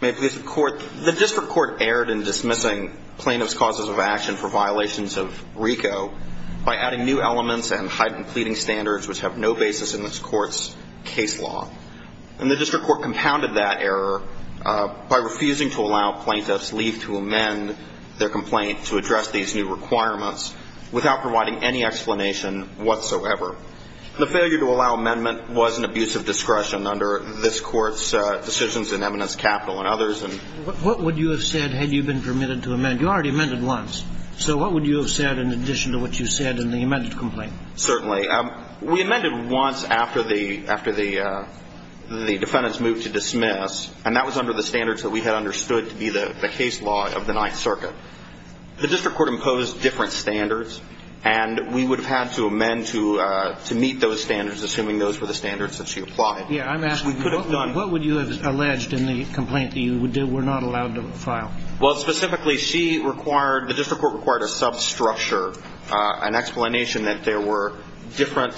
The District Court erred in dismissing plaintiff's causes of action for violations of RICO by adding new elements and heightened pleading standards which have no basis in this Court's case law. And the District Court compounded that error by refusing to allow plaintiffs leave to amend their complaint to address these new requirements without providing any explanation whatsoever. The failure to allow amendment was an abuse of discretion under this Court's decisions in Eminence Capital and others. What would you have said had you been permitted to amend? You already amended once. So what would you have said in addition to what you said in the amended complaint? Certainly. We amended once after the defendants moved to dismiss, and that was under the standards that we had understood to be the case law of the Ninth Circuit. The District Court imposed different standards, and we would have had to amend to meet those standards, assuming those were the standards that she applied. Yes. I'm asking you, what would you have alleged in the complaint that you were not allowed to file? Well, specifically, she required, the District Court required a substructure, an explanation that there were different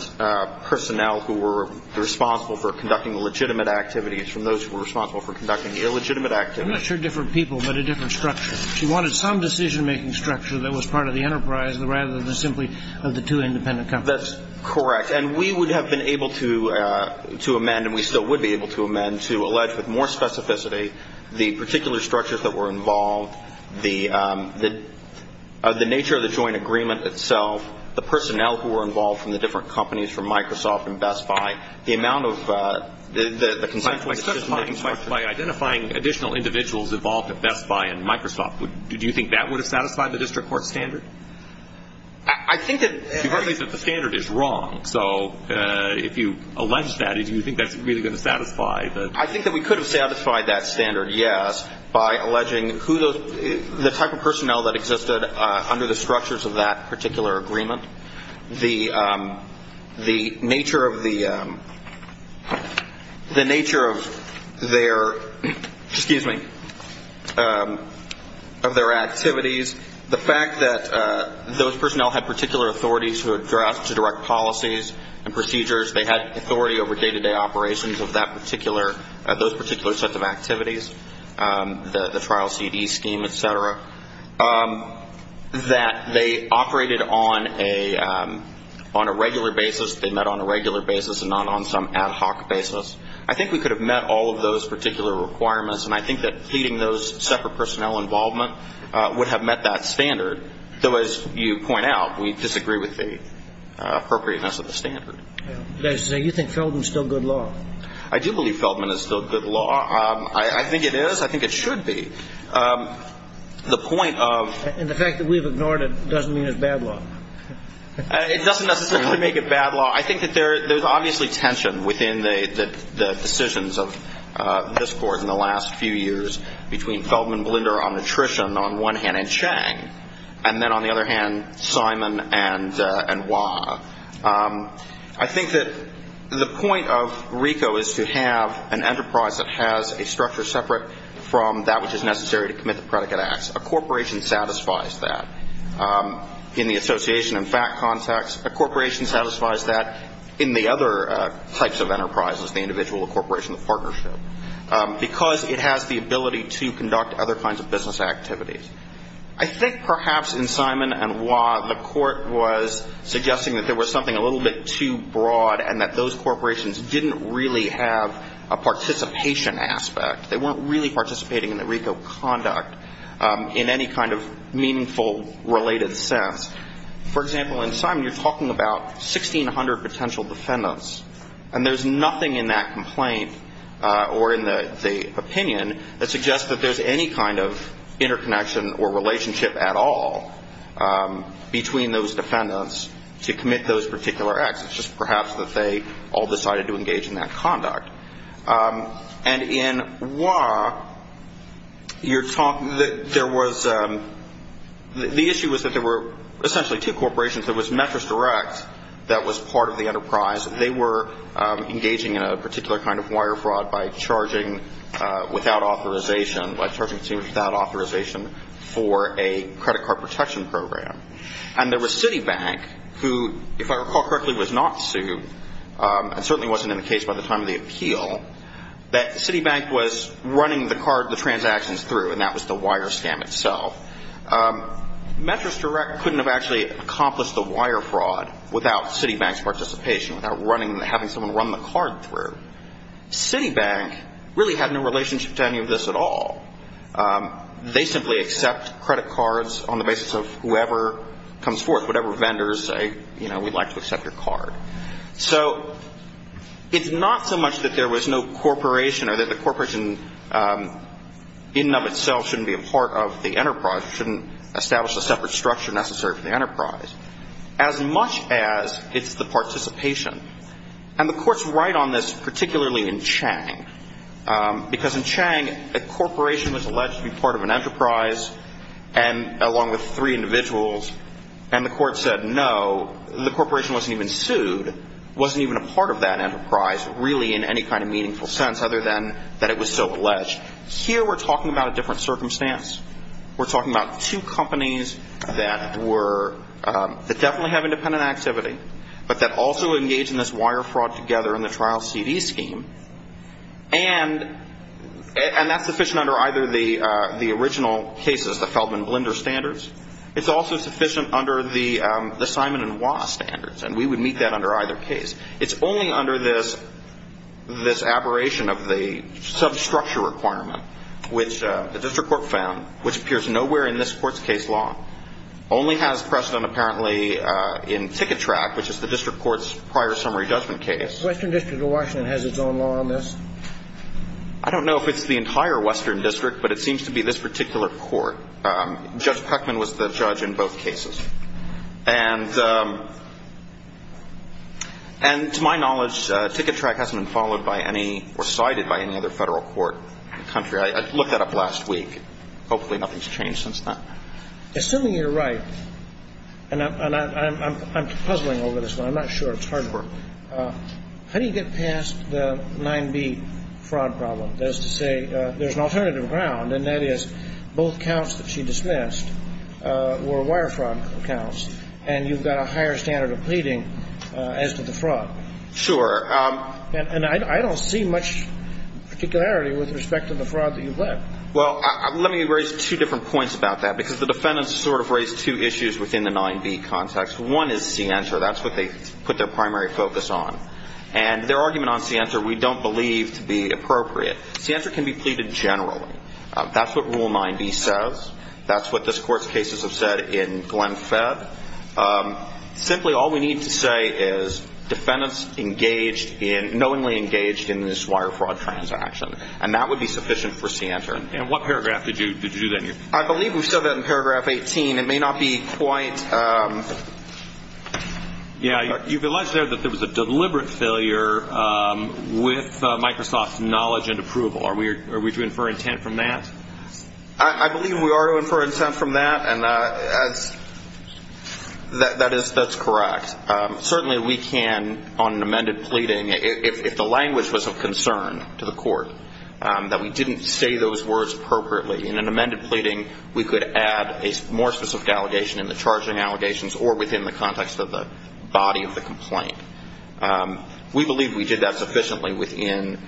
personnel who were responsible for conducting legitimate activities from those who were responsible for conducting illegitimate activities. I'm not sure different people, but a different structure. She wanted some decision-making structure that was part of the enterprise rather than simply of the two independent companies. That's correct. And we would have been able to amend, and we still would be able to amend, to allege with more specificity the particular structures that were involved, the nature of the joint agreement itself, the personnel who were involved from the different companies from Microsoft and Best Buy, the amount of, the consensual decision-making structure. And by identifying additional individuals involved at Best Buy and Microsoft, do you think that would have satisfied the District Court standard? I think that... You've argued that the standard is wrong, so if you allege that, do you think that's really going to satisfy the... I think that we could have satisfied that standard, yes, by alleging who those, the type of personnel that existed under the structures of that particular agreement, the nature of the, the nature of their, excuse me, of their activities, the fact that those personnel had particular authorities to address, to direct policies and procedures, they had authority over day-to-day operations of that particular, those particular sets of activities, the trial CD scheme, et cetera, that they operated on a regular basis, they met on a regular basis and not on some ad hoc basis. I think we could have met all of those particular requirements, and I think that pleading those separate personnel involvement would have met that standard, though, as you point out, we disagree with the appropriateness of the standard. You think Feldman is still good law? I do believe Feldman is still good law. I think it is. I think it should be. The point of... And the fact that we've ignored it doesn't mean it's bad law. It doesn't necessarily make it bad law. I think that there's obviously tension within the decisions of this Court in the last few years between Feldman, Blinder, Omnitrition on one hand, and Chang, and then on the other hand, Simon and Wah. I think that the point of RICO is to have an enterprise that has a structure separate from that which is necessary to commit the predicate acts. A corporation satisfies that. In the association and FACT context, a corporation satisfies that in the other types of enterprises, the individual corporation, the partnership, because it has the ability to conduct other kinds of business activities. I think perhaps in Simon and Wah, the Court was suggesting that there was something a little bit too broad and that those corporations didn't really have a participation aspect. They weren't really participating in the RICO conduct in any kind of meaningful related sense. For example, in Simon, you're talking about 1,600 potential defendants, and there's nothing in that complaint or in the opinion that suggests that there's any kind of interconnection or relationship at all between those defendants to commit those particular acts. It's just perhaps that they all decided to engage in that conduct. And in Wah, the issue was that there were essentially two corporations. There was Metris Direct that was part of the enterprise. They were engaging in a particular kind of wire fraud by charging consumers without authorization for a credit card protection program. And there was Citibank, who, if I recall correctly, was not sued and certainly wasn't in the case by the time of the appeal, that Citibank was running the card, the transactions through, and that was the wire scam itself. Metris Direct couldn't have actually accomplished the wire fraud without Citibank's participation, without having someone run the card through. Citibank really had no relationship to any of this at all. They simply accept credit cards on the basis of whoever comes forth, whatever vendors say, you know, we'd like to accept your card. So it's not so much that there was no corporation or that the corporation in and of itself shouldn't be a part of the enterprise, shouldn't establish a separate structure necessary for the enterprise, as much as it's the participation. And the courts write on this particularly in Chang, because in Chang, a corporation was alleged to be part of an enterprise and along with three individuals, and the court said, no, the corporation wasn't even sued, wasn't even a part of that enterprise really in any kind of meaningful sense, other than that it was so alleged. Here we're talking about a different circumstance. We're talking about two companies that were – that definitely have independent activity, but that also engage in this wire fraud together in the trial CD scheme. And that's sufficient under either the original cases, the Feldman Blender standards. It's also sufficient under the Simon & Wah standards, and we would meet that under either case. It's only under this aberration of the substructure requirement, which the district court found, which appears nowhere in this court's case law, only has precedent apparently in Ticketrak, which is the district court's prior summary judgment case. The Western District of Washington has its own law on this? I don't know if it's the entire Western District, but it seems to be this particular court. Judge Peckman was the judge in both cases. And to my knowledge, Ticketrak hasn't been followed by any – or cited by any other federal court in the country. I looked that up last week. Hopefully nothing's changed since then. Assuming you're right, and I'm puzzling over this one. I'm not sure. It's hard work. How do you get past the 9B fraud problem? That is to say, there's an alternative ground, and that is both counts that she dismissed were wire fraud counts, and you've got a higher standard of pleading as to the fraud. Sure. And I don't see much particularity with respect to the fraud that you've led. Well, let me raise two different points about that, because the defendants sort of raised two issues within the 9B context. One is Sienta. That's what they put their primary focus on. And their argument on Sienta we don't believe to be appropriate. Sienta can be pleaded generally. That's what Rule 9B says. That's what this Court's cases have said in Glenn Fedd. Simply, all we need to say is defendants engaged in – knowingly engaged in this wire fraud transaction. And that would be sufficient for Sienta. And what paragraph did you do then? I believe we said that in paragraph 18. It may not be quite – Yeah, you've alleged there that there was a deliberate failure with Microsoft's knowledge and approval. Are we to infer intent from that? I believe we are to infer intent from that, and that is – that's correct. Certainly we can, on an amended pleading, if the language was of concern to the Court, that we didn't say those words appropriately. In an amended pleading, we could add a more specific allegation in the charging allegations or within the context of the body of the complaint. We believe we did that sufficiently within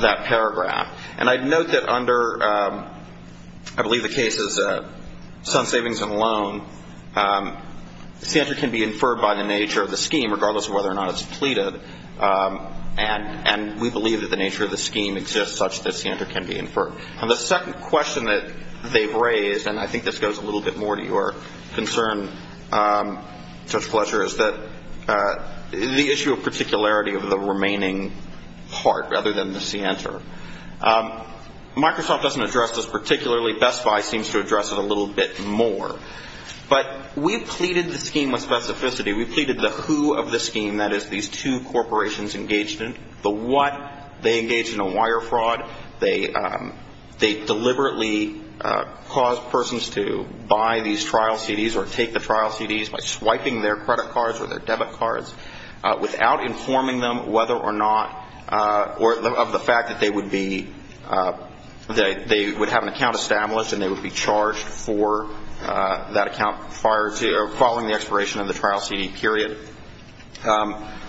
that paragraph. And I'd note that under, I believe the case is Sun Savings and Loan, Sienta can be inferred by the nature of the scheme, regardless of whether or not it's pleaded. And we believe that the nature of the scheme exists such that Sienta can be inferred. And the second question that they've raised – and I think this goes a little bit more Your concern, Judge Fletcher, is that the issue of particularity of the remaining part rather than the Sienta. Microsoft doesn't address this particularly. Best Buy seems to address it a little bit more. But we've pleaded the scheme with specificity. We've pleaded the who of the scheme, that is, these two corporations engaged in the what. They deliberately cause persons to buy these trial CDs or take the trial CDs by swiping their credit cards or their debit cards without informing them whether or not – or of the fact that they would be – that they would have an account established and they would be charged for that account prior to – or following the expiration of the trial CD period.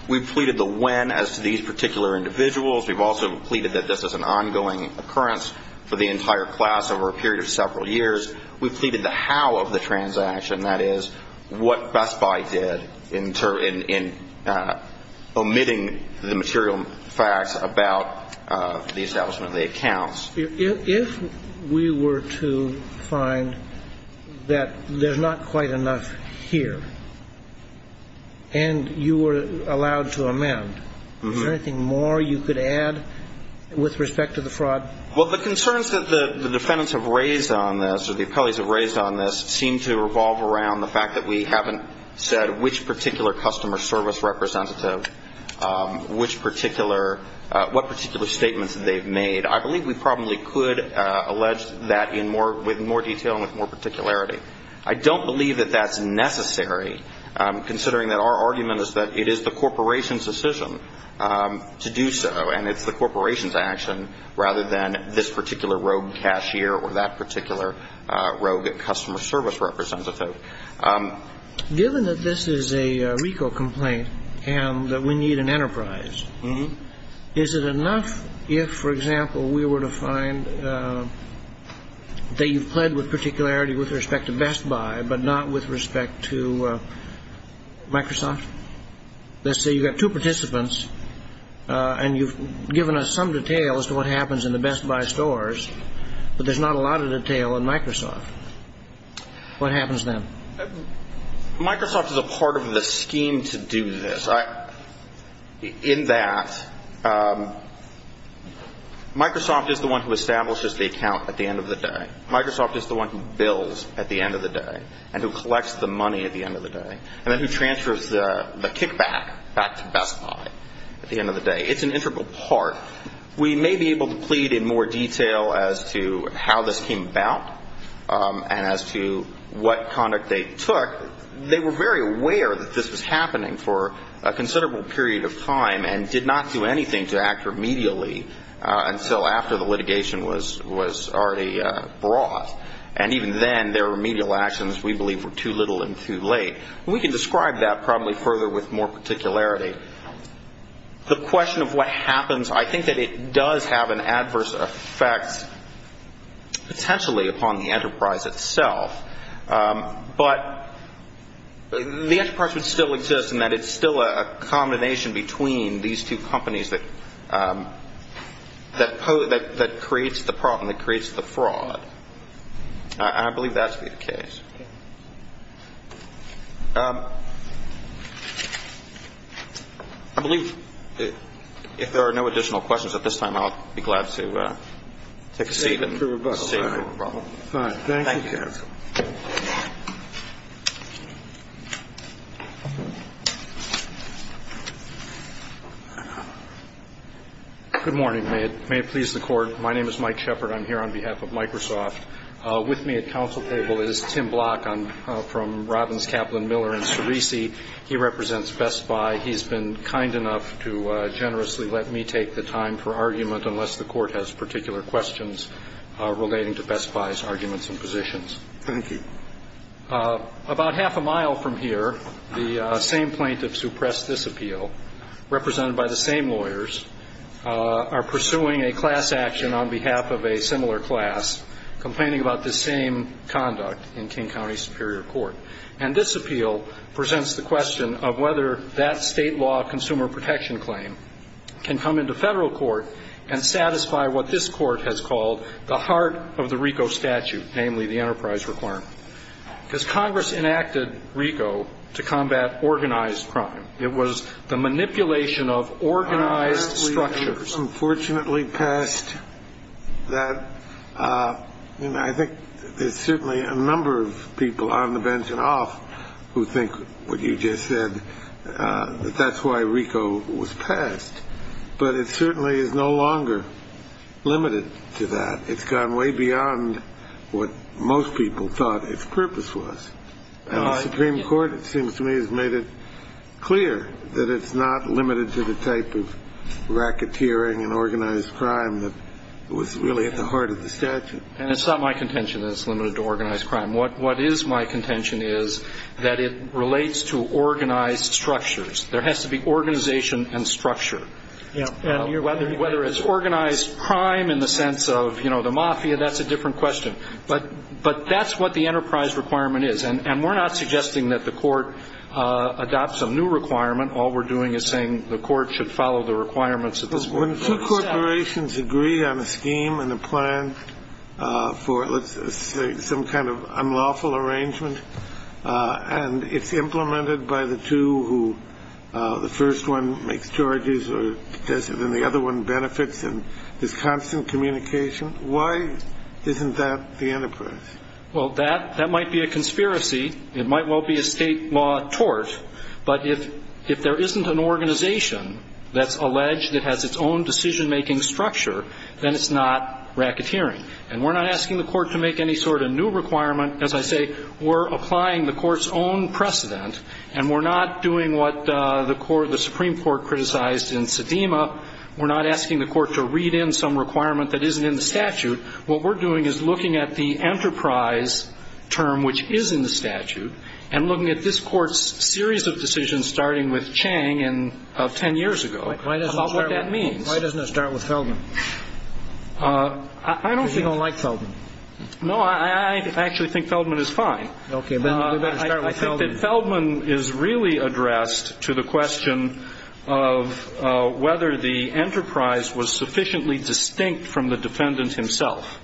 We've pleaded the when as to these particular individuals. We've also pleaded that this is an ongoing occurrence for the entire class over a period of several years. We've pleaded the how of the transaction, that is, what Best Buy did in omitting the material facts about the establishment of the accounts. If we were to find that there's not quite enough here and you were allowed to amend, is there anything more you could add with respect to the fraud? Well, the concerns that the defendants have raised on this, or the appellees have raised on this, seem to revolve around the fact that we haven't said which particular customer service representative, which particular – what particular statements that they've made. I believe we probably could allege that in more – with more detail and with more particularity. I don't believe that that's necessary, considering that our argument is that it is the corporation's decision to do so, and it's the corporation's action rather than this particular rogue cashier or that particular rogue customer service representative. Given that this is a RICO complaint and that we need an enterprise, is it enough if, for example, we were to find that you've pled with particularity with respect to Best Buy but not with respect to Microsoft? Let's say you've got two participants and you've given us some detail as to what happens in the Best Buy stores, but there's not a lot of detail in Microsoft. What happens then? Microsoft is a part of the scheme to do this. In that, Microsoft is the one who collects the money at the end of the day, and then who transfers the kickback back to Best Buy at the end of the day. It's an integral part. We may be able to plead in more detail as to how this came about and as to what conduct they took. They were very aware that this was happening for a considerable period of time and did not do anything to act remedially until after the litigation was already brought. And even then, their remedial actions, we believe, were too little and too late. We can describe that probably further with more particularity. The question of what happens, I think that it does have an adverse effect potentially upon the enterprise itself. But the enterprise would still exist in that it's still a combination between these two companies that creates the problem, that creates the fraud. I believe that to be the case. I believe if there are no additional questions at this time, I'll be glad to take a seat and save you from a problem. Good morning. May it please the Court. My name is Mike Shepard. I'm here on behalf of Microsoft. With me at counsel table is Tim Block. I'm from Robbins, Kaplan, Miller, and Sirisi. He represents Best Buy. He's been kind enough to generously let me take the time for argument unless the Court has particular questions relating to Best Buy's arguments and positions. Thank you. About half a mile from here, the same plaintiffs who pressed this appeal, represented by the same lawyers, are pursuing a class action on behalf of a similar class, complaining about the same conduct in King County Superior Court. And this appeal presents the question of whether that state law consumer protection claim can come into federal court and satisfy what this court has called the heart of the RICO statute, namely the enterprise requirement. Because Congress enacted RICO to combat organized crime. It was the manipulation of organized structures. Unfortunately passed. I think there's certainly a number of people on the bench and off who think what you just said, that that's why RICO was passed. But it certainly is no longer limited to that. It's gone way beyond what most people thought its purpose was. And the Supreme Court, it seems to me, has made it clear that it's not limited to the type of racketeering and organized crime that was really at the heart of the statute. And it's not my contention that it's limited to organized crime. What is my contention is that it relates to organized structures. There has to be organization and structure. Whether it's organized crime in the sense of, you know, the mafia, that's a different question. But that's what the enterprise requirement is. And we're not suggesting that the court adopts a new requirement. All we're doing is saying the court should follow the requirements of the Supreme Court. When two corporations agree on a scheme and a plan for, let's say, some kind of unlawful arrangement, and it's implemented by the two who the first one makes charges or doesn't and the other one benefits, and there's constant communication, why isn't that the enterprise? Well, that might be a conspiracy. It might well be a State law tort. But if there isn't an organization that's alleged that has its own decision-making structure, then it's not racketeering. And we're not asking the court to make any sort of new requirement. As I say, we're applying the court's own precedent, and we're not doing what the Supreme Court criticized in Sedema. We're not asking the court to read in some requirement that isn't in the statute. What we're doing is looking at the enterprise term, which is in the statute, and looking at this Court's series of decisions starting with Chang of 10 years ago about what that means. Why doesn't it start with Feldman? I don't think so. Because you don't like Feldman. No, I actually think Feldman is fine. Okay. But we better start with Feldman. I think that Feldman is really addressed to the question of whether the enterprise was sufficiently distinct from the defendant himself.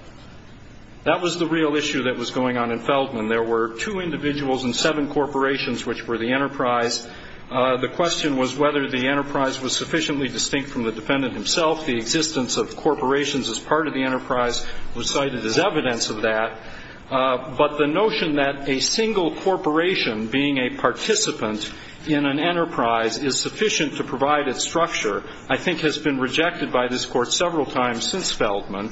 That was the real issue that was going on in Feldman. There were two individuals and seven corporations which were the enterprise. The question was whether the enterprise was sufficiently distinct from the defendant himself. The existence of corporations as part of the enterprise was cited as evidence of that. But the notion that a single corporation being a participant in an enterprise is sufficient to provide its structure I think has been rejected by this Court several times since Feldman.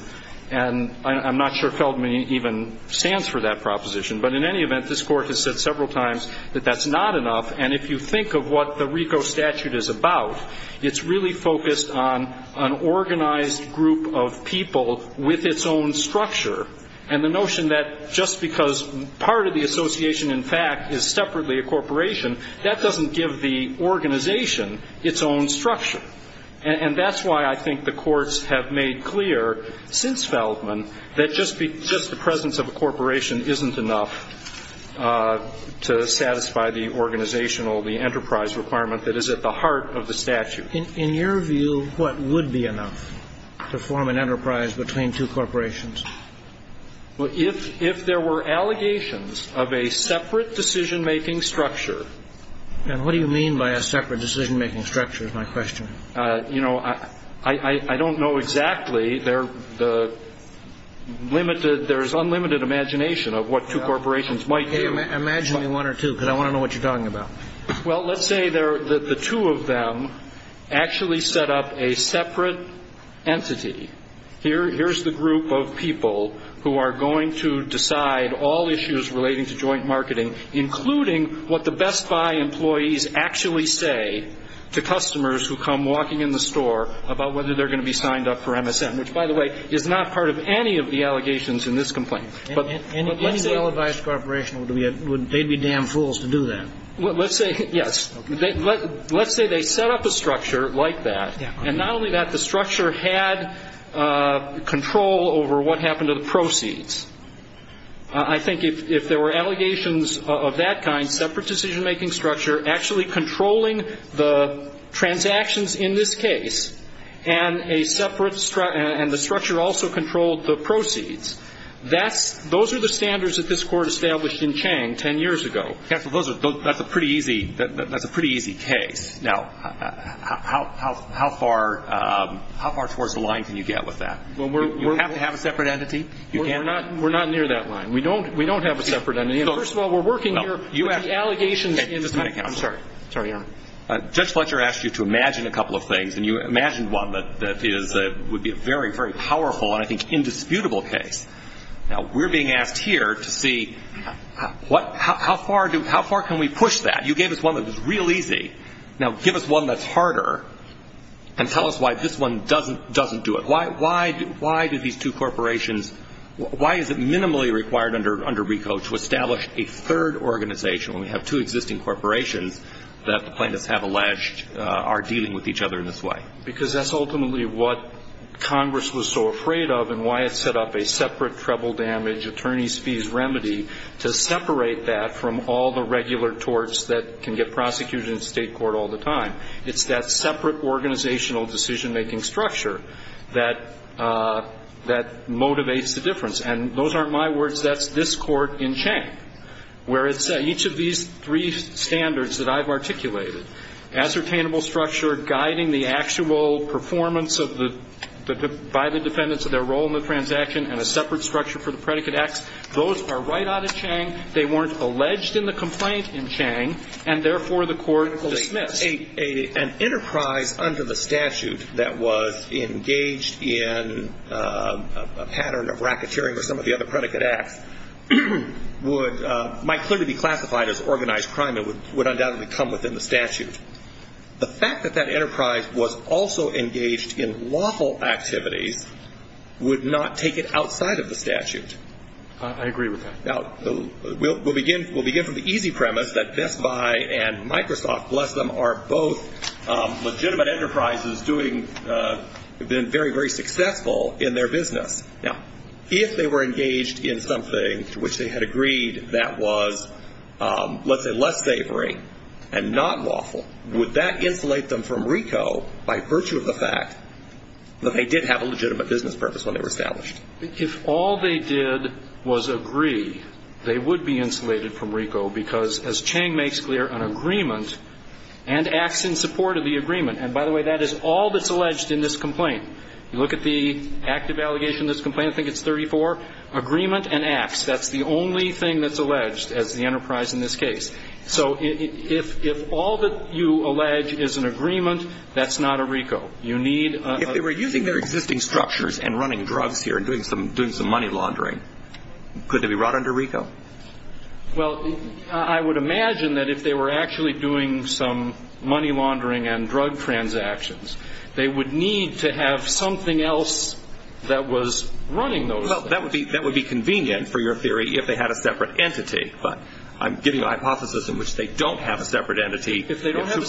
And I'm not sure Feldman even stands for that proposition. But in any event, this Court has said several times that that's not enough. And if you think of what the RICO statute is about, it's really focused on an organized group of people with its own structure. And the notion that just because part of the association, in fact, is separately a corporation, that doesn't give the organization its own structure. And that's why I think the courts have made clear since Feldman that just the presence of a corporation isn't enough to satisfy the organizational, the enterprise requirement that is at the heart of the statute. In your view, what would be enough to form an enterprise between two corporations? Well, if there were allegations of a separate decision-making structure. And what do you mean by a separate decision-making structure is my question. You know, I don't know exactly. There's unlimited imagination of what two corporations might do. Imagine one or two, because I want to know what you're talking about. Well, let's say the two of them actually set up a separate entity. Here's the group of people who are going to decide all issues relating to joint marketing, including what the Best Buy employees actually say to customers who come walking in the store about whether they're going to be signed up for MSN, which, by the way, is not part of any of the allegations in this complaint. Any well-advised corporation, they'd be damn fools to do that. Well, let's say, yes. Let's say they set up a structure like that. And not only that, the structure had control over what happened to the proceeds. I think if there were allegations of that kind, separate decision-making structure, actually controlling the transactions in this case, and the structure also controlled the proceeds, those are the standards that this Court established in Chang 10 years ago. That's a pretty easy case. Now, how far towards the line can you get with that? Do you have to have a separate entity? We're not near that line. We don't have a separate entity. First of all, we're working here with the allegations. I'm sorry. Sorry, Your Honor. Judge Fletcher asked you to imagine a couple of things, and you imagined one that would be a very, very powerful and, I think, indisputable case. Now, we're being asked here to see how far can we push that. You gave us one that was real easy. Now, give us one that's harder and tell us why this one doesn't do it. Why do these two corporations, why is it minimally required under RICO to establish a third organization when we have two existing corporations that the plaintiffs have alleged are dealing with each other in this way? Because that's ultimately what Congress was so afraid of and why it set up a separate treble damage, attorney's fees remedy, to separate that from all the regular torts that can get prosecuted in state court all the time. It's that separate organizational decision-making structure that motivates the difference. And those aren't my words. That's this Court in Chang, where it's each of these three standards that I've articulated, ascertainable structure guiding the actual performance by the defendants of their role in the transaction and a separate structure for the predicate acts, those are right out of Chang, they weren't alleged in the complaint in Chang, and therefore the Court will dismiss. An enterprise under the statute that was engaged in a pattern of racketeering or some of the other predicate acts might clearly be classified as organized crime and would undoubtedly come within the statute. The fact that that enterprise was also engaged in lawful activities would not take it outside of the statute. I agree with that. Now, we'll begin from the easy premise that Best Buy and Microsoft, bless them, are both legitimate enterprises doing very, very successful in their business. Now, if they were engaged in something to which they had agreed that was, let's say, less savory and not lawful, would that insulate them from RICO by virtue of the fact that they did have a legitimate business purpose when they were established? If all they did was agree, they would be insulated from RICO because, as Chang makes clear, an agreement and acts in support of the agreement. And, by the way, that is all that's alleged in this complaint. You look at the active allegation in this complaint, I think it's 34, agreement and acts. That's the only thing that's alleged as the enterprise in this case. So if all that you allege is an agreement, that's not a RICO. You need a ---- If they were using their existing structures and running drugs here and doing some money laundering, could they be brought under RICO? Well, I would imagine that if they were actually doing some money laundering and drug transactions, they would need to have something else that was running those things. Well, that would be convenient for your theory if they had a separate entity. But I'm giving a hypothesis in which they don't have a separate entity. If they don't have a separate entity. If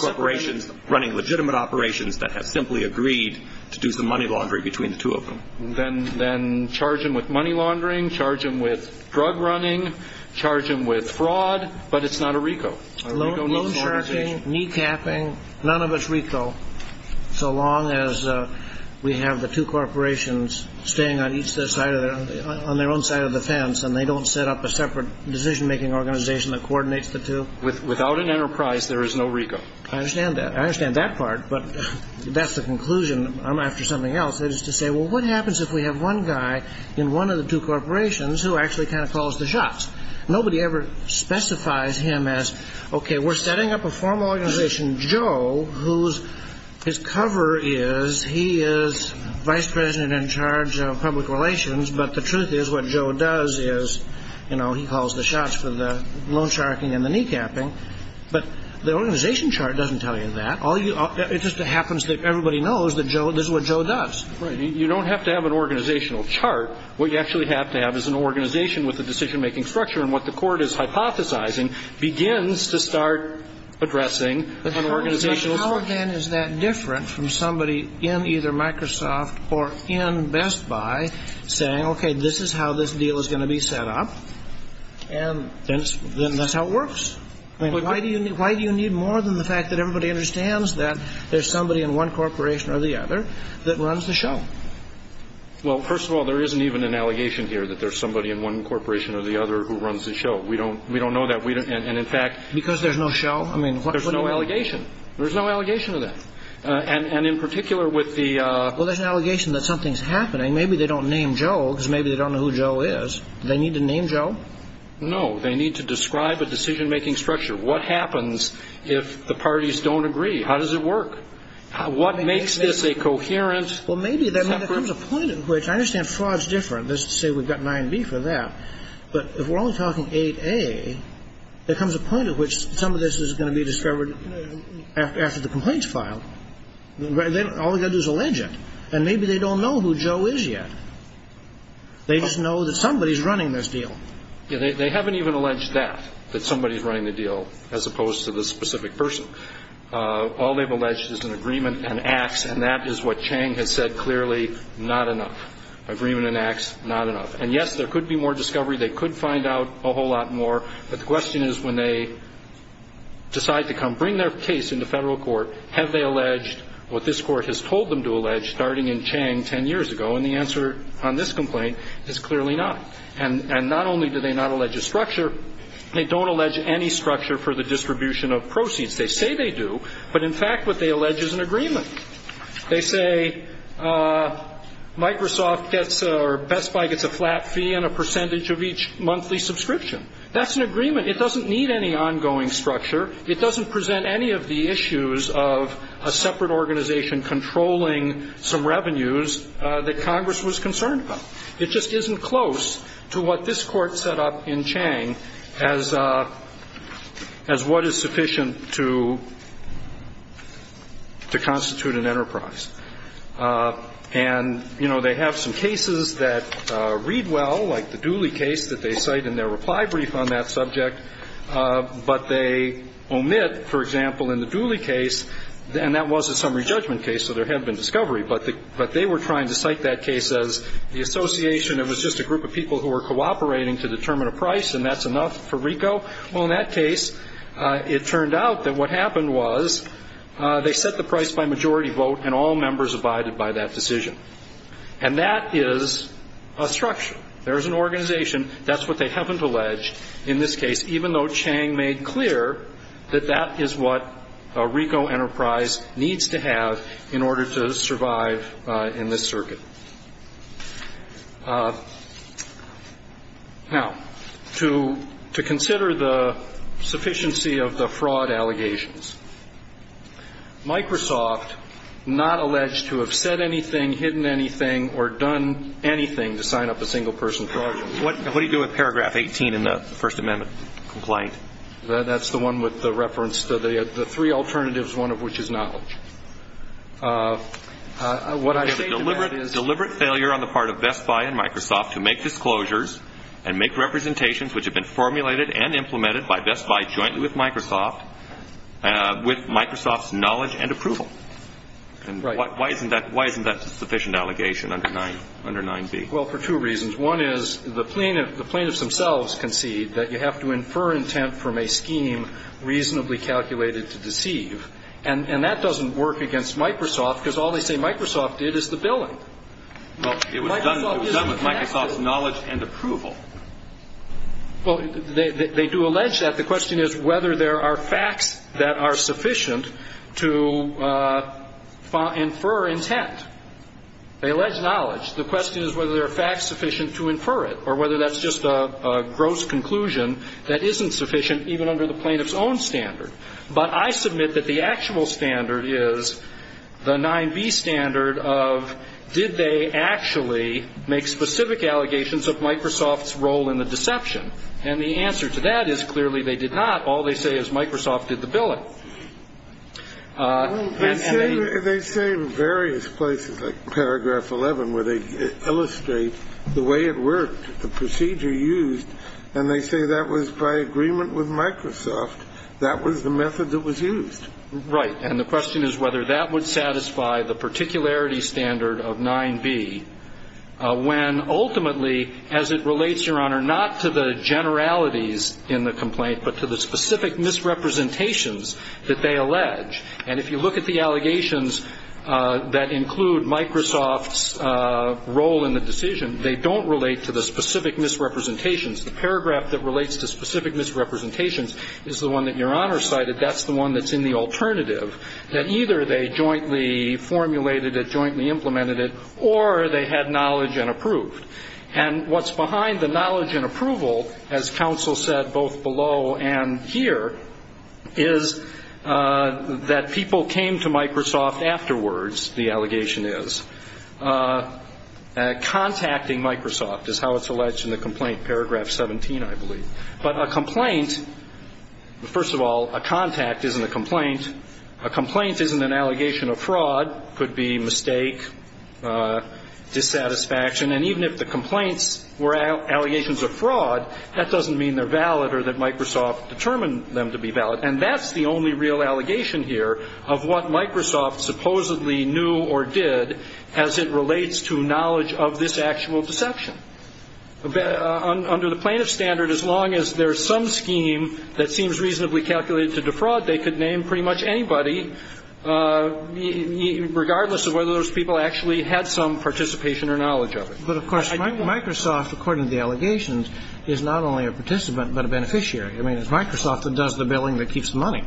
two corporations running legitimate operations that have simply agreed to do some money laundering between the two of them. Then charge them with money laundering, charge them with drug running, charge them with fraud. But it's not a RICO. A RICO is an organization. Loan-sharking, knee-capping, none of it's RICO so long as we have the two corporations staying on their own side of the fence and they don't set up a separate decision-making organization that coordinates the two. Without an enterprise, there is no RICO. I understand that. I understand that part. But that's the conclusion. I'm after something else. That is to say, well, what happens if we have one guy in one of the two corporations who actually kind of calls the shots? Nobody ever specifies him as, okay, we're setting up a formal organization. But the truth is, what Joe does is, you know, he calls the shots for the loan-sharking and the knee-capping. But the organization chart doesn't tell you that. It just happens that everybody knows that Joe does what Joe does. Right. You don't have to have an organizational chart. What you actually have to have is an organization with a decision-making structure. And what the Court is hypothesizing begins to start addressing how the organization How, then, is that different from somebody in either Microsoft or in Best Buy saying, okay, this is how this deal is going to be set up, and then that's how it works? Why do you need more than the fact that everybody understands that there's somebody in one corporation or the other that runs the show? Well, first of all, there isn't even an allegation here that there's somebody in one corporation or the other who runs the show. We don't know that. And, in fact, Because there's no show? I mean, what do you mean? There's no allegation. There's no allegation of that. And, in particular, with the Well, there's an allegation that something's happening. Maybe they don't name Joe because maybe they don't know who Joe is. Do they need to name Joe? No. They need to describe a decision-making structure. What happens if the parties don't agree? How does it work? What makes this a coherent Well, maybe there comes a point at which I understand fraud's different. Let's say we've got 9B for that. But if we're only talking 8A, there comes a point at which some of this is going to be discovered after the complaints file. All they've got to do is allege it. And maybe they don't know who Joe is yet. They just know that somebody's running this deal. They haven't even alleged that, that somebody's running the deal, as opposed to the specific person. All they've alleged is an agreement and acts, and that is what Chang has said clearly, not enough. Agreement and acts, not enough. And, yes, there could be more discovery. They could find out a whole lot more. But the question is when they decide to come bring their case into federal court, have they alleged what this court has told them to allege, starting in Chang 10 years ago? And the answer on this complaint is clearly not. And not only do they not allege a structure, they don't allege any structure for the distribution of proceeds. They say they do, but in fact what they allege is an agreement. They say Microsoft gets or Best Buy gets a flat fee and a percentage of each monthly subscription. That's an agreement. It doesn't need any ongoing structure. It doesn't present any of the issues of a separate organization controlling some revenues that Congress was concerned about. It just isn't close to what this Court set up in Chang as what is sufficient to constitute an enterprise. And, you know, they have some cases that read well, like the Dooley case that they cite in their reply brief on that subject. But they omit, for example, in the Dooley case, and that was a summary judgment case, so there had been discovery. But they were trying to cite that case as the association. It was just a group of people who were cooperating to determine a price, and that's enough for RICO. Well, in that case, it turned out that what happened was they set the price by majority vote, and all members abided by that decision. And that is a structure. There is an organization. That's what they haven't alleged in this case, even though Chang made clear that that is what a RICO enterprise needs to have in order to survive in this circuit. Now, to consider the sufficiency of the fraud allegations, Microsoft not alleged to have said anything, hidden anything, or done anything to sign up a single-person project. What do you do with Paragraph 18 in the First Amendment complaint? That's the one with the reference to the three alternatives, one of which is knowledge. What I say to that is- You have a deliberate failure on the part of Best Buy and Microsoft to make disclosures and make representations which have been formulated and implemented by Best Buy jointly with Microsoft, with Microsoft's knowledge and approval. And why isn't that a sufficient allegation under 9b? Well, for two reasons. One is the plaintiffs themselves concede that you have to infer intent from a scheme reasonably calculated to deceive. And that doesn't work against Microsoft because all they say Microsoft did is the billing. Well, it was done with Microsoft's knowledge and approval. Well, they do allege that. The question is whether there are facts that are sufficient to infer intent. They allege knowledge. The question is whether there are facts sufficient to infer it or whether that's just a gross conclusion that isn't sufficient even under the plaintiff's own standard. But I submit that the actual standard is the 9b standard of did they actually make specific allegations of Microsoft's role in the deception. And the answer to that is clearly they did not. All they say is Microsoft did the billing. They say in various places, like paragraph 11, where they illustrate the way it worked, the procedure used. And they say that was by agreement with Microsoft. That was the method that was used. Right. And the question is whether that would satisfy the particularity standard of 9b when ultimately, as it relates, Your Honor, generalities in the complaint but to the specific misrepresentations that they allege. And if you look at the allegations that include Microsoft's role in the decision, they don't relate to the specific misrepresentations. The paragraph that relates to specific misrepresentations is the one that Your Honor cited. That's the one that's in the alternative, that either they jointly formulated it, jointly implemented it, or they had knowledge and approved. And what's behind the knowledge and approval, as counsel said both below and here, is that people came to Microsoft afterwards, the allegation is, contacting Microsoft is how it's alleged in the complaint, paragraph 17, I believe. But a complaint, first of all, a contact isn't a complaint. A complaint isn't an allegation of fraud. Fraud could be mistake, dissatisfaction, and even if the complaints were allegations of fraud, that doesn't mean they're valid or that Microsoft determined them to be valid. And that's the only real allegation here of what Microsoft supposedly knew or did as it relates to knowledge of this actual deception. Under the plaintiff standard, as long as there's some scheme that seems reasonably calculated to defraud, they could name pretty much anybody, regardless of whether those people actually had some participation or knowledge of it. But, of course, Microsoft, according to the allegations, is not only a participant but a beneficiary. I mean, it's Microsoft that does the billing that keeps the money.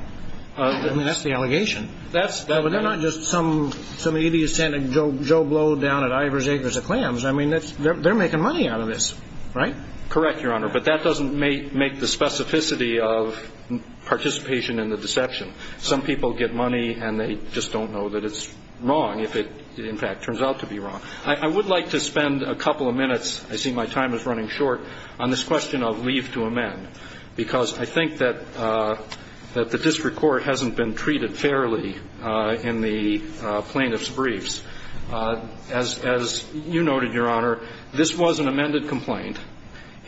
I mean, that's the allegation. But they're not just some idiot sending Joe Blow down at Ivor's Acres of Clams. I mean, they're making money out of this, right? Correct, Your Honor. But that doesn't make the specificity of participation in the deception. Some people get money and they just don't know that it's wrong if it, in fact, turns out to be wrong. I would like to spend a couple of minutes, I see my time is running short, on this question of leave to amend, because I think that the district court hasn't been treated fairly in the plaintiff's briefs. As you noted, Your Honor, this was an amended complaint.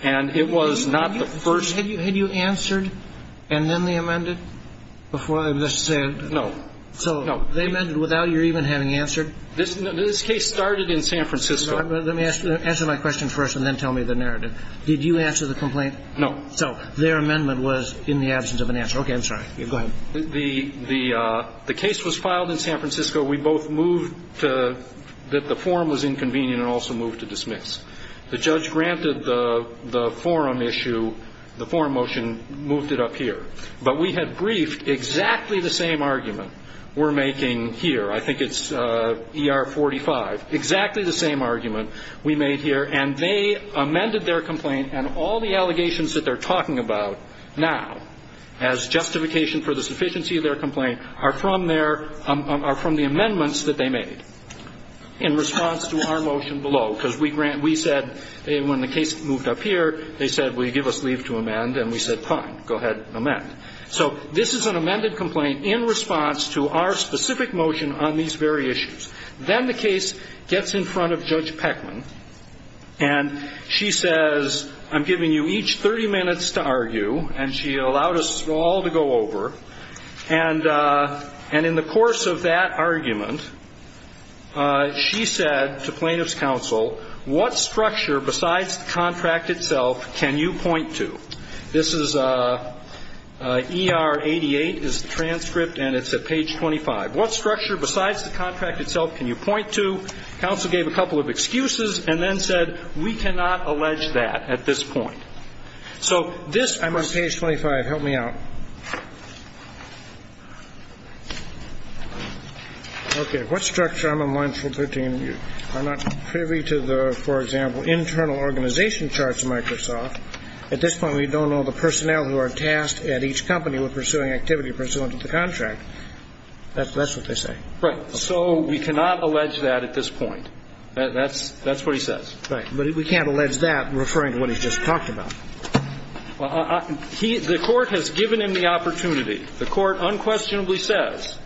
And it was not the first. Had you answered and then they amended before this? No. So they amended without your even having answered? This case started in San Francisco. Let me answer my question first and then tell me the narrative. Did you answer the complaint? No. So their amendment was in the absence of an answer. Okay, I'm sorry. Go ahead. The case was filed in San Francisco. We both moved that the form was inconvenient and also moved to dismiss. The judge granted the forum issue, the forum motion, moved it up here. But we had briefed exactly the same argument we're making here. I think it's ER 45. Exactly the same argument we made here. And they amended their complaint, and all the allegations that they're talking about now, as justification for the sufficiency of their complaint, are from the amendments that they made in response to our motion below. Because we said when the case moved up here, they said, will you give us leave to amend? And we said, fine, go ahead, amend. So this is an amended complaint in response to our specific motion on these very issues. Then the case gets in front of Judge Peckman, and she says, I'm giving you each 30 minutes to argue. And she allowed us all to go over. And in the course of that argument, she said to plaintiff's counsel, what structure besides the contract itself can you point to? This is ER 88 is the transcript, and it's at page 25. What structure besides the contract itself can you point to? Counsel gave a couple of excuses and then said, we cannot allege that at this point. So this ‑‑ I'm on page 25. Help me out. Okay. What structure, I'm on line 413. I'm not privy to the, for example, internal organization charts of Microsoft. At this point, we don't know the personnel who are tasked at each company with pursuing activity pursuant to the contract. That's what they say. Right. So we cannot allege that at this point. That's what he says. Right. But we can't allege that referring to what he just talked about. The court has given him the opportunity. The court unquestionably says,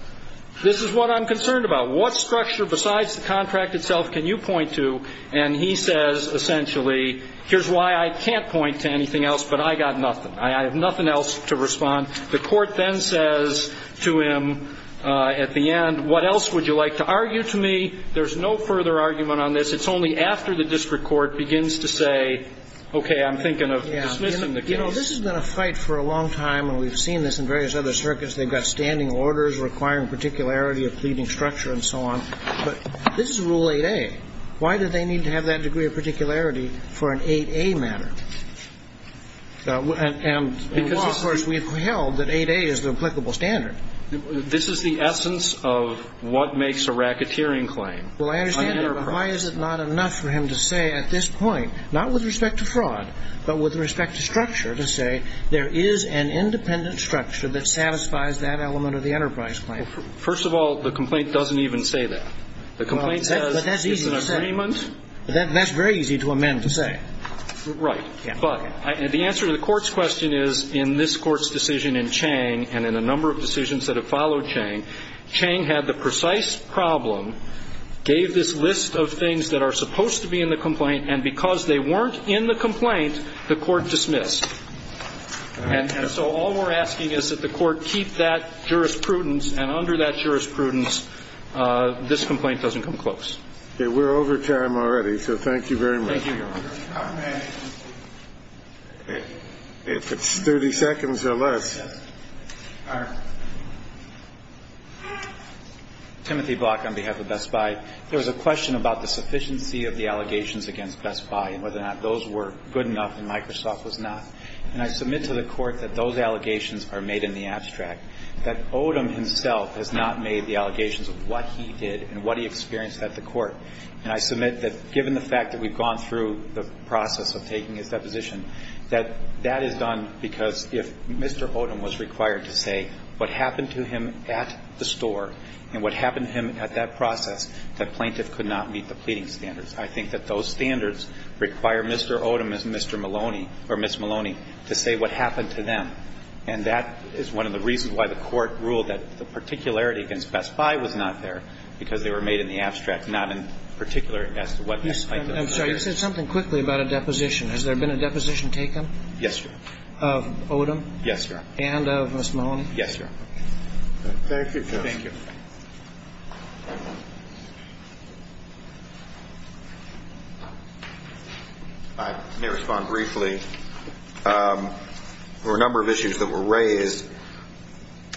this is what I'm concerned about. What structure besides the contract itself can you point to? And he says, essentially, here's why I can't point to anything else, but I got nothing. I have nothing else to respond. The court then says to him at the end, what else would you like to argue to me? There's no further argument on this. It's only after the district court begins to say, okay, I'm thinking of dismissing the case. You know, this has been a fight for a long time, and we've seen this in various other circuits. They've got standing orders requiring particularity of pleading structure and so on. But this is Rule 8a. Why do they need to have that degree of particularity for an 8a matter? Because, of course, we've held that 8a is the applicable standard. This is the essence of what makes a racketeering claim. Well, I understand that, but why is it not enough for him to say at this point, not with respect to fraud, but with respect to structure, to say there is an independent structure that satisfies that element of the enterprise claim? First of all, the complaint doesn't even say that. The complaint says it's an agreement. But that's easy to say. That's very easy to amend to say. Right. But the answer to the Court's question is, in this Court's decision in Chang and in the number of decisions that have followed Chang, Chang had the precise problem, gave this list of things that are supposed to be in the complaint, and because they weren't in the complaint, the Court dismissed. And so all we're asking is that the Court keep that jurisprudence, and under that jurisprudence this complaint doesn't come close. Okay. Thank you. If it's 30 seconds or less. All right. Timothy Block on behalf of Best Buy. There was a question about the sufficiency of the allegations against Best Buy and whether or not those were good enough and Microsoft was not. And I submit to the Court that those allegations are made in the abstract, that Odom himself has not made the allegations of what he did and what he experienced at the Court. And I submit that given the fact that we've gone through the process of taking his deposition, that that is done because if Mr. Odom was required to say what happened to him at the store and what happened to him at that process, that plaintiff could not meet the pleading standards. I think that those standards require Mr. Odom as Mr. Maloney or Ms. Maloney to say what happened to them. And that is one of the reasons why the Court ruled that the particularity of the allegations against Best Buy was not there because they were made in the abstract, not in particular as to what these plaintiffs did. I'm sorry. You said something quickly about a deposition. Has there been a deposition taken? Yes, Your Honor. Of Odom? Yes, Your Honor. And of Ms. Maloney? Yes, Your Honor. Thank you, Judge. Thank you. I may respond briefly. There were a number of issues that were raised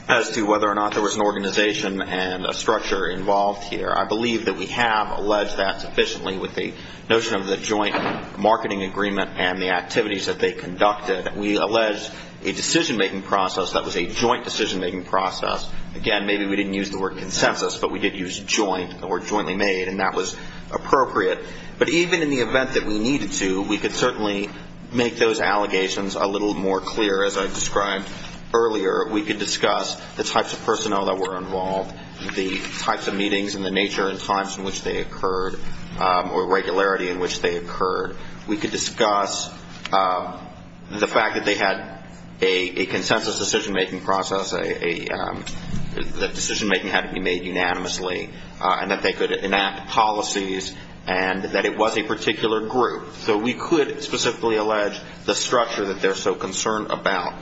as to whether or not there was an organization and a structure involved here. I believe that we have alleged that sufficiently with the notion of the joint marketing agreement and the activities that they conducted. We alleged a decision-making process that was a joint decision-making process. Again, maybe we didn't use the word consensus, but we did use joint, the word jointly made, and that was appropriate. But even in the event that we needed to, we could certainly make those allegations a little more clear. As I described earlier, we could discuss the types of personnel that were involved, the types of meetings and the nature and times in which they occurred, or regularity in which they occurred. We could discuss the fact that they had a consensus decision-making process, that decision-making had to be made unanimously, and that they could enact policies and that it was a particular group. So we could specifically allege the structure that they're so concerned about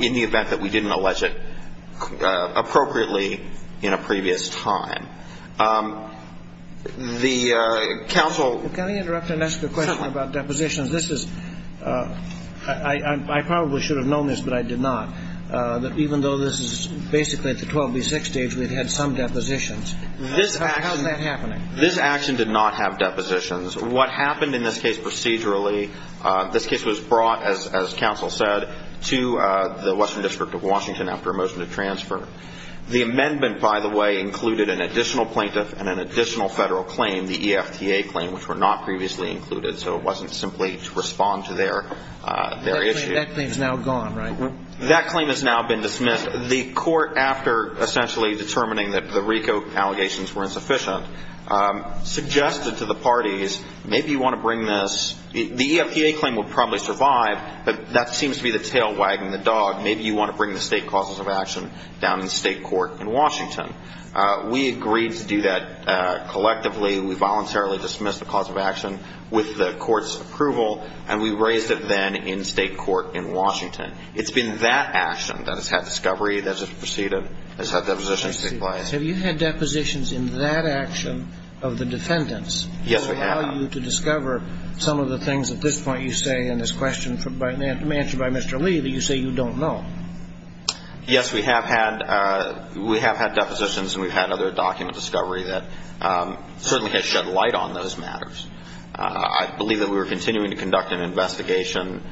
in the event that we didn't allege it appropriately in a previous time. The counsel ---- Can I interrupt and ask a question about depositions? This is ---- I probably should have known this, but I did not. Even though this is basically at the 12B6 stage, we've had some depositions. How is that happening? This action did not have depositions. What happened in this case procedurally, this case was brought, as counsel said, to the Western District of Washington after a motion to transfer. The amendment, by the way, included an additional plaintiff and an additional Federal claim, the EFTA claim, which were not previously included, so it wasn't simply to respond to their issue. That claim is now gone, right? That claim has now been dismissed. And the court, after essentially determining that the RICO allegations were insufficient, suggested to the parties, maybe you want to bring this. The EFTA claim would probably survive, but that seems to be the tail wagging the dog. Maybe you want to bring the state causes of action down in state court in Washington. We agreed to do that collectively. We voluntarily dismissed the cause of action with the court's approval, and we raised it then in state court in Washington. It's been that action that has had discovery, that has proceeded, has had depositions take place. Have you had depositions in that action of the defendants? Yes, we have. To allow you to discover some of the things at this point you say in this question by Mr. Lee that you say you don't know. Yes, we have had depositions and we've had other document discovery that certainly has shed light on those matters. I believe that we were continuing to conduct an investigation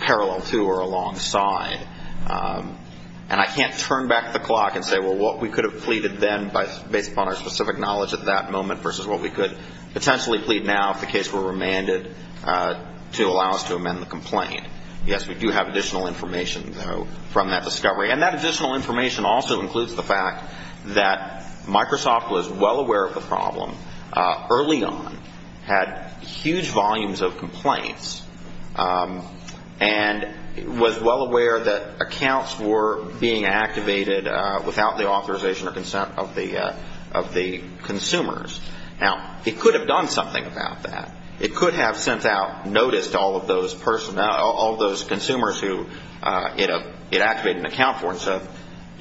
parallel to or alongside, and I can't turn back the clock and say, well, what we could have pleaded then based upon our specific knowledge at that moment versus what we could potentially plead now if the case were remanded to allow us to amend the complaint. Yes, we do have additional information, though, from that discovery. And that additional information also includes the fact that Microsoft was well aware that accounts were being activated without the authorization or consent of the consumers. Now, it could have done something about that. It could have sent out notice to all of those consumers who it activated an account for and said,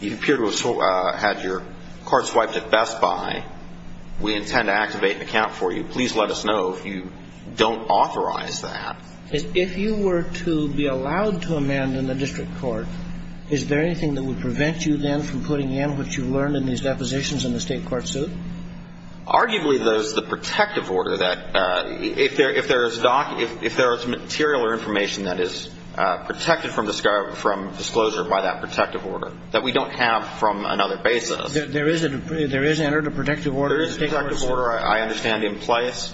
you appear to have had your card swiped at Best Buy. Please make sure that you have your card swiped at Best Buy. Please let us know if you don't authorize that. If you were to be allowed to amend in the district court, is there anything that would prevent you then from putting in what you've learned in these depositions in the state court suit? Arguably, there's the protective order that if there is material or information that is protected from disclosure by that protective order that we don't have from There is entered a protective order in the state court suit? There is a protective order, I understand, in place.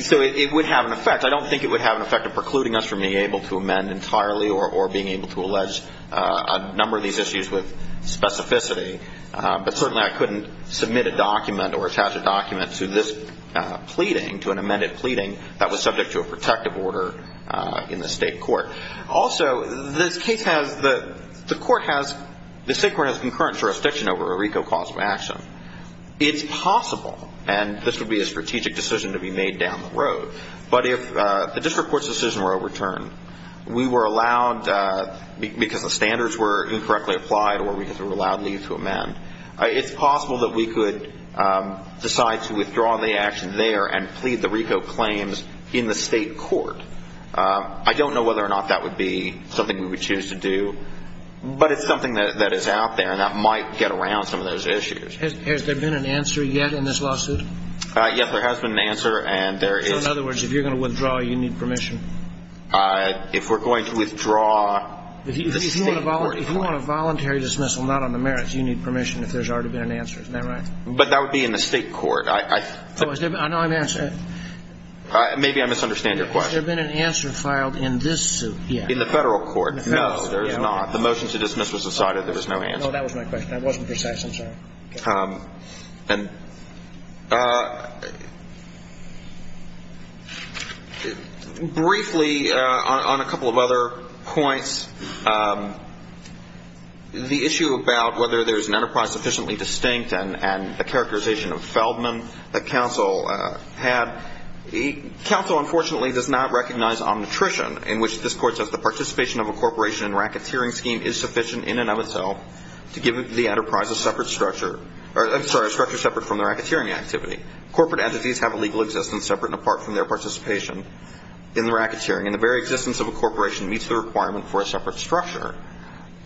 So it would have an effect. I don't think it would have an effect of precluding us from being able to amend entirely or being able to allege a number of these issues with specificity. But certainly I couldn't submit a document or attach a document to this pleading, to an amended pleading that was subject to a protective order in the state court. Also, this case has the court has the state court has concurrent jurisdiction over a RICO cause of action. It's possible, and this would be a strategic decision to be made down the road, but if the district court's decision were overturned, we were allowed, because the standards were incorrectly applied or we were allowed leave to amend, it's possible that we could decide to withdraw the action there and plead the RICO claims in the state court. I don't know whether or not that would be something we would choose to do, but it's something that is out there and that might get around some of those issues. Has there been an answer yet in this lawsuit? Yes, there has been an answer, and there is. So, in other words, if you're going to withdraw, you need permission? If we're going to withdraw in the state court. If you want a voluntary dismissal, not on the merits, you need permission, if there's already been an answer. Isn't that right? But that would be in the state court. No, I'm asking. Maybe I misunderstand your question. Has there been an answer filed in this suit yet? In the federal court? No, there has not. The motion to dismiss was decided. There was no answer. No, that was my question. That wasn't precise. I'm sorry. Briefly, on a couple of other points, the issue about whether there's an enterprise sufficiently distinct and the characterization of Feldman that counsel had, counsel unfortunately does not recognize omnitrition in which this court says the corporation and racketeering scheme is sufficient in and of itself to give the enterprise a separate structure. I'm sorry, a structure separate from the racketeering activity. Corporate entities have a legal existence separate and apart from their participation in the racketeering, and the very existence of a corporation meets the requirement for a separate structure.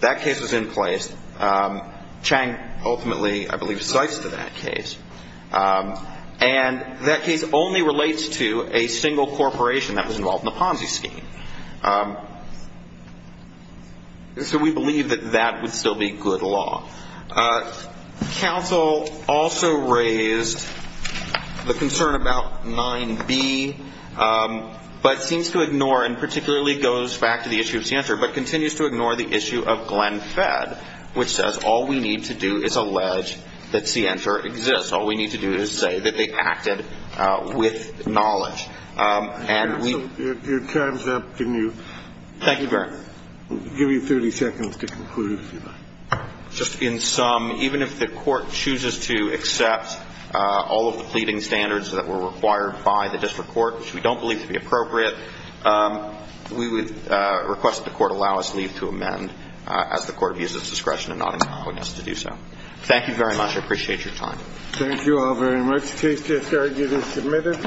That case was in place. Chang ultimately, I believe, cites to that case, and that case only relates to a single corporation that was involved in the Ponzi scheme. So we believe that that would still be good law. Counsel also raised the concern about 9B, but seems to ignore and particularly goes back to the issue of Center, but continues to ignore the issue of Glenn Fedd, which says all we need to do is allege that Center exists. All we need to do is say that they acted with knowledge. Your time is up. Can you give me 30 seconds to conclude, if you like. Just in sum, even if the court chooses to accept all of the pleading standards that were required by the district court, which we don't believe to be appropriate, we would request that the court allow us leave to amend as the court views its discretion in not allowing us to do so. Thank you very much. I appreciate your time. Thank you all very much. The case is submitted.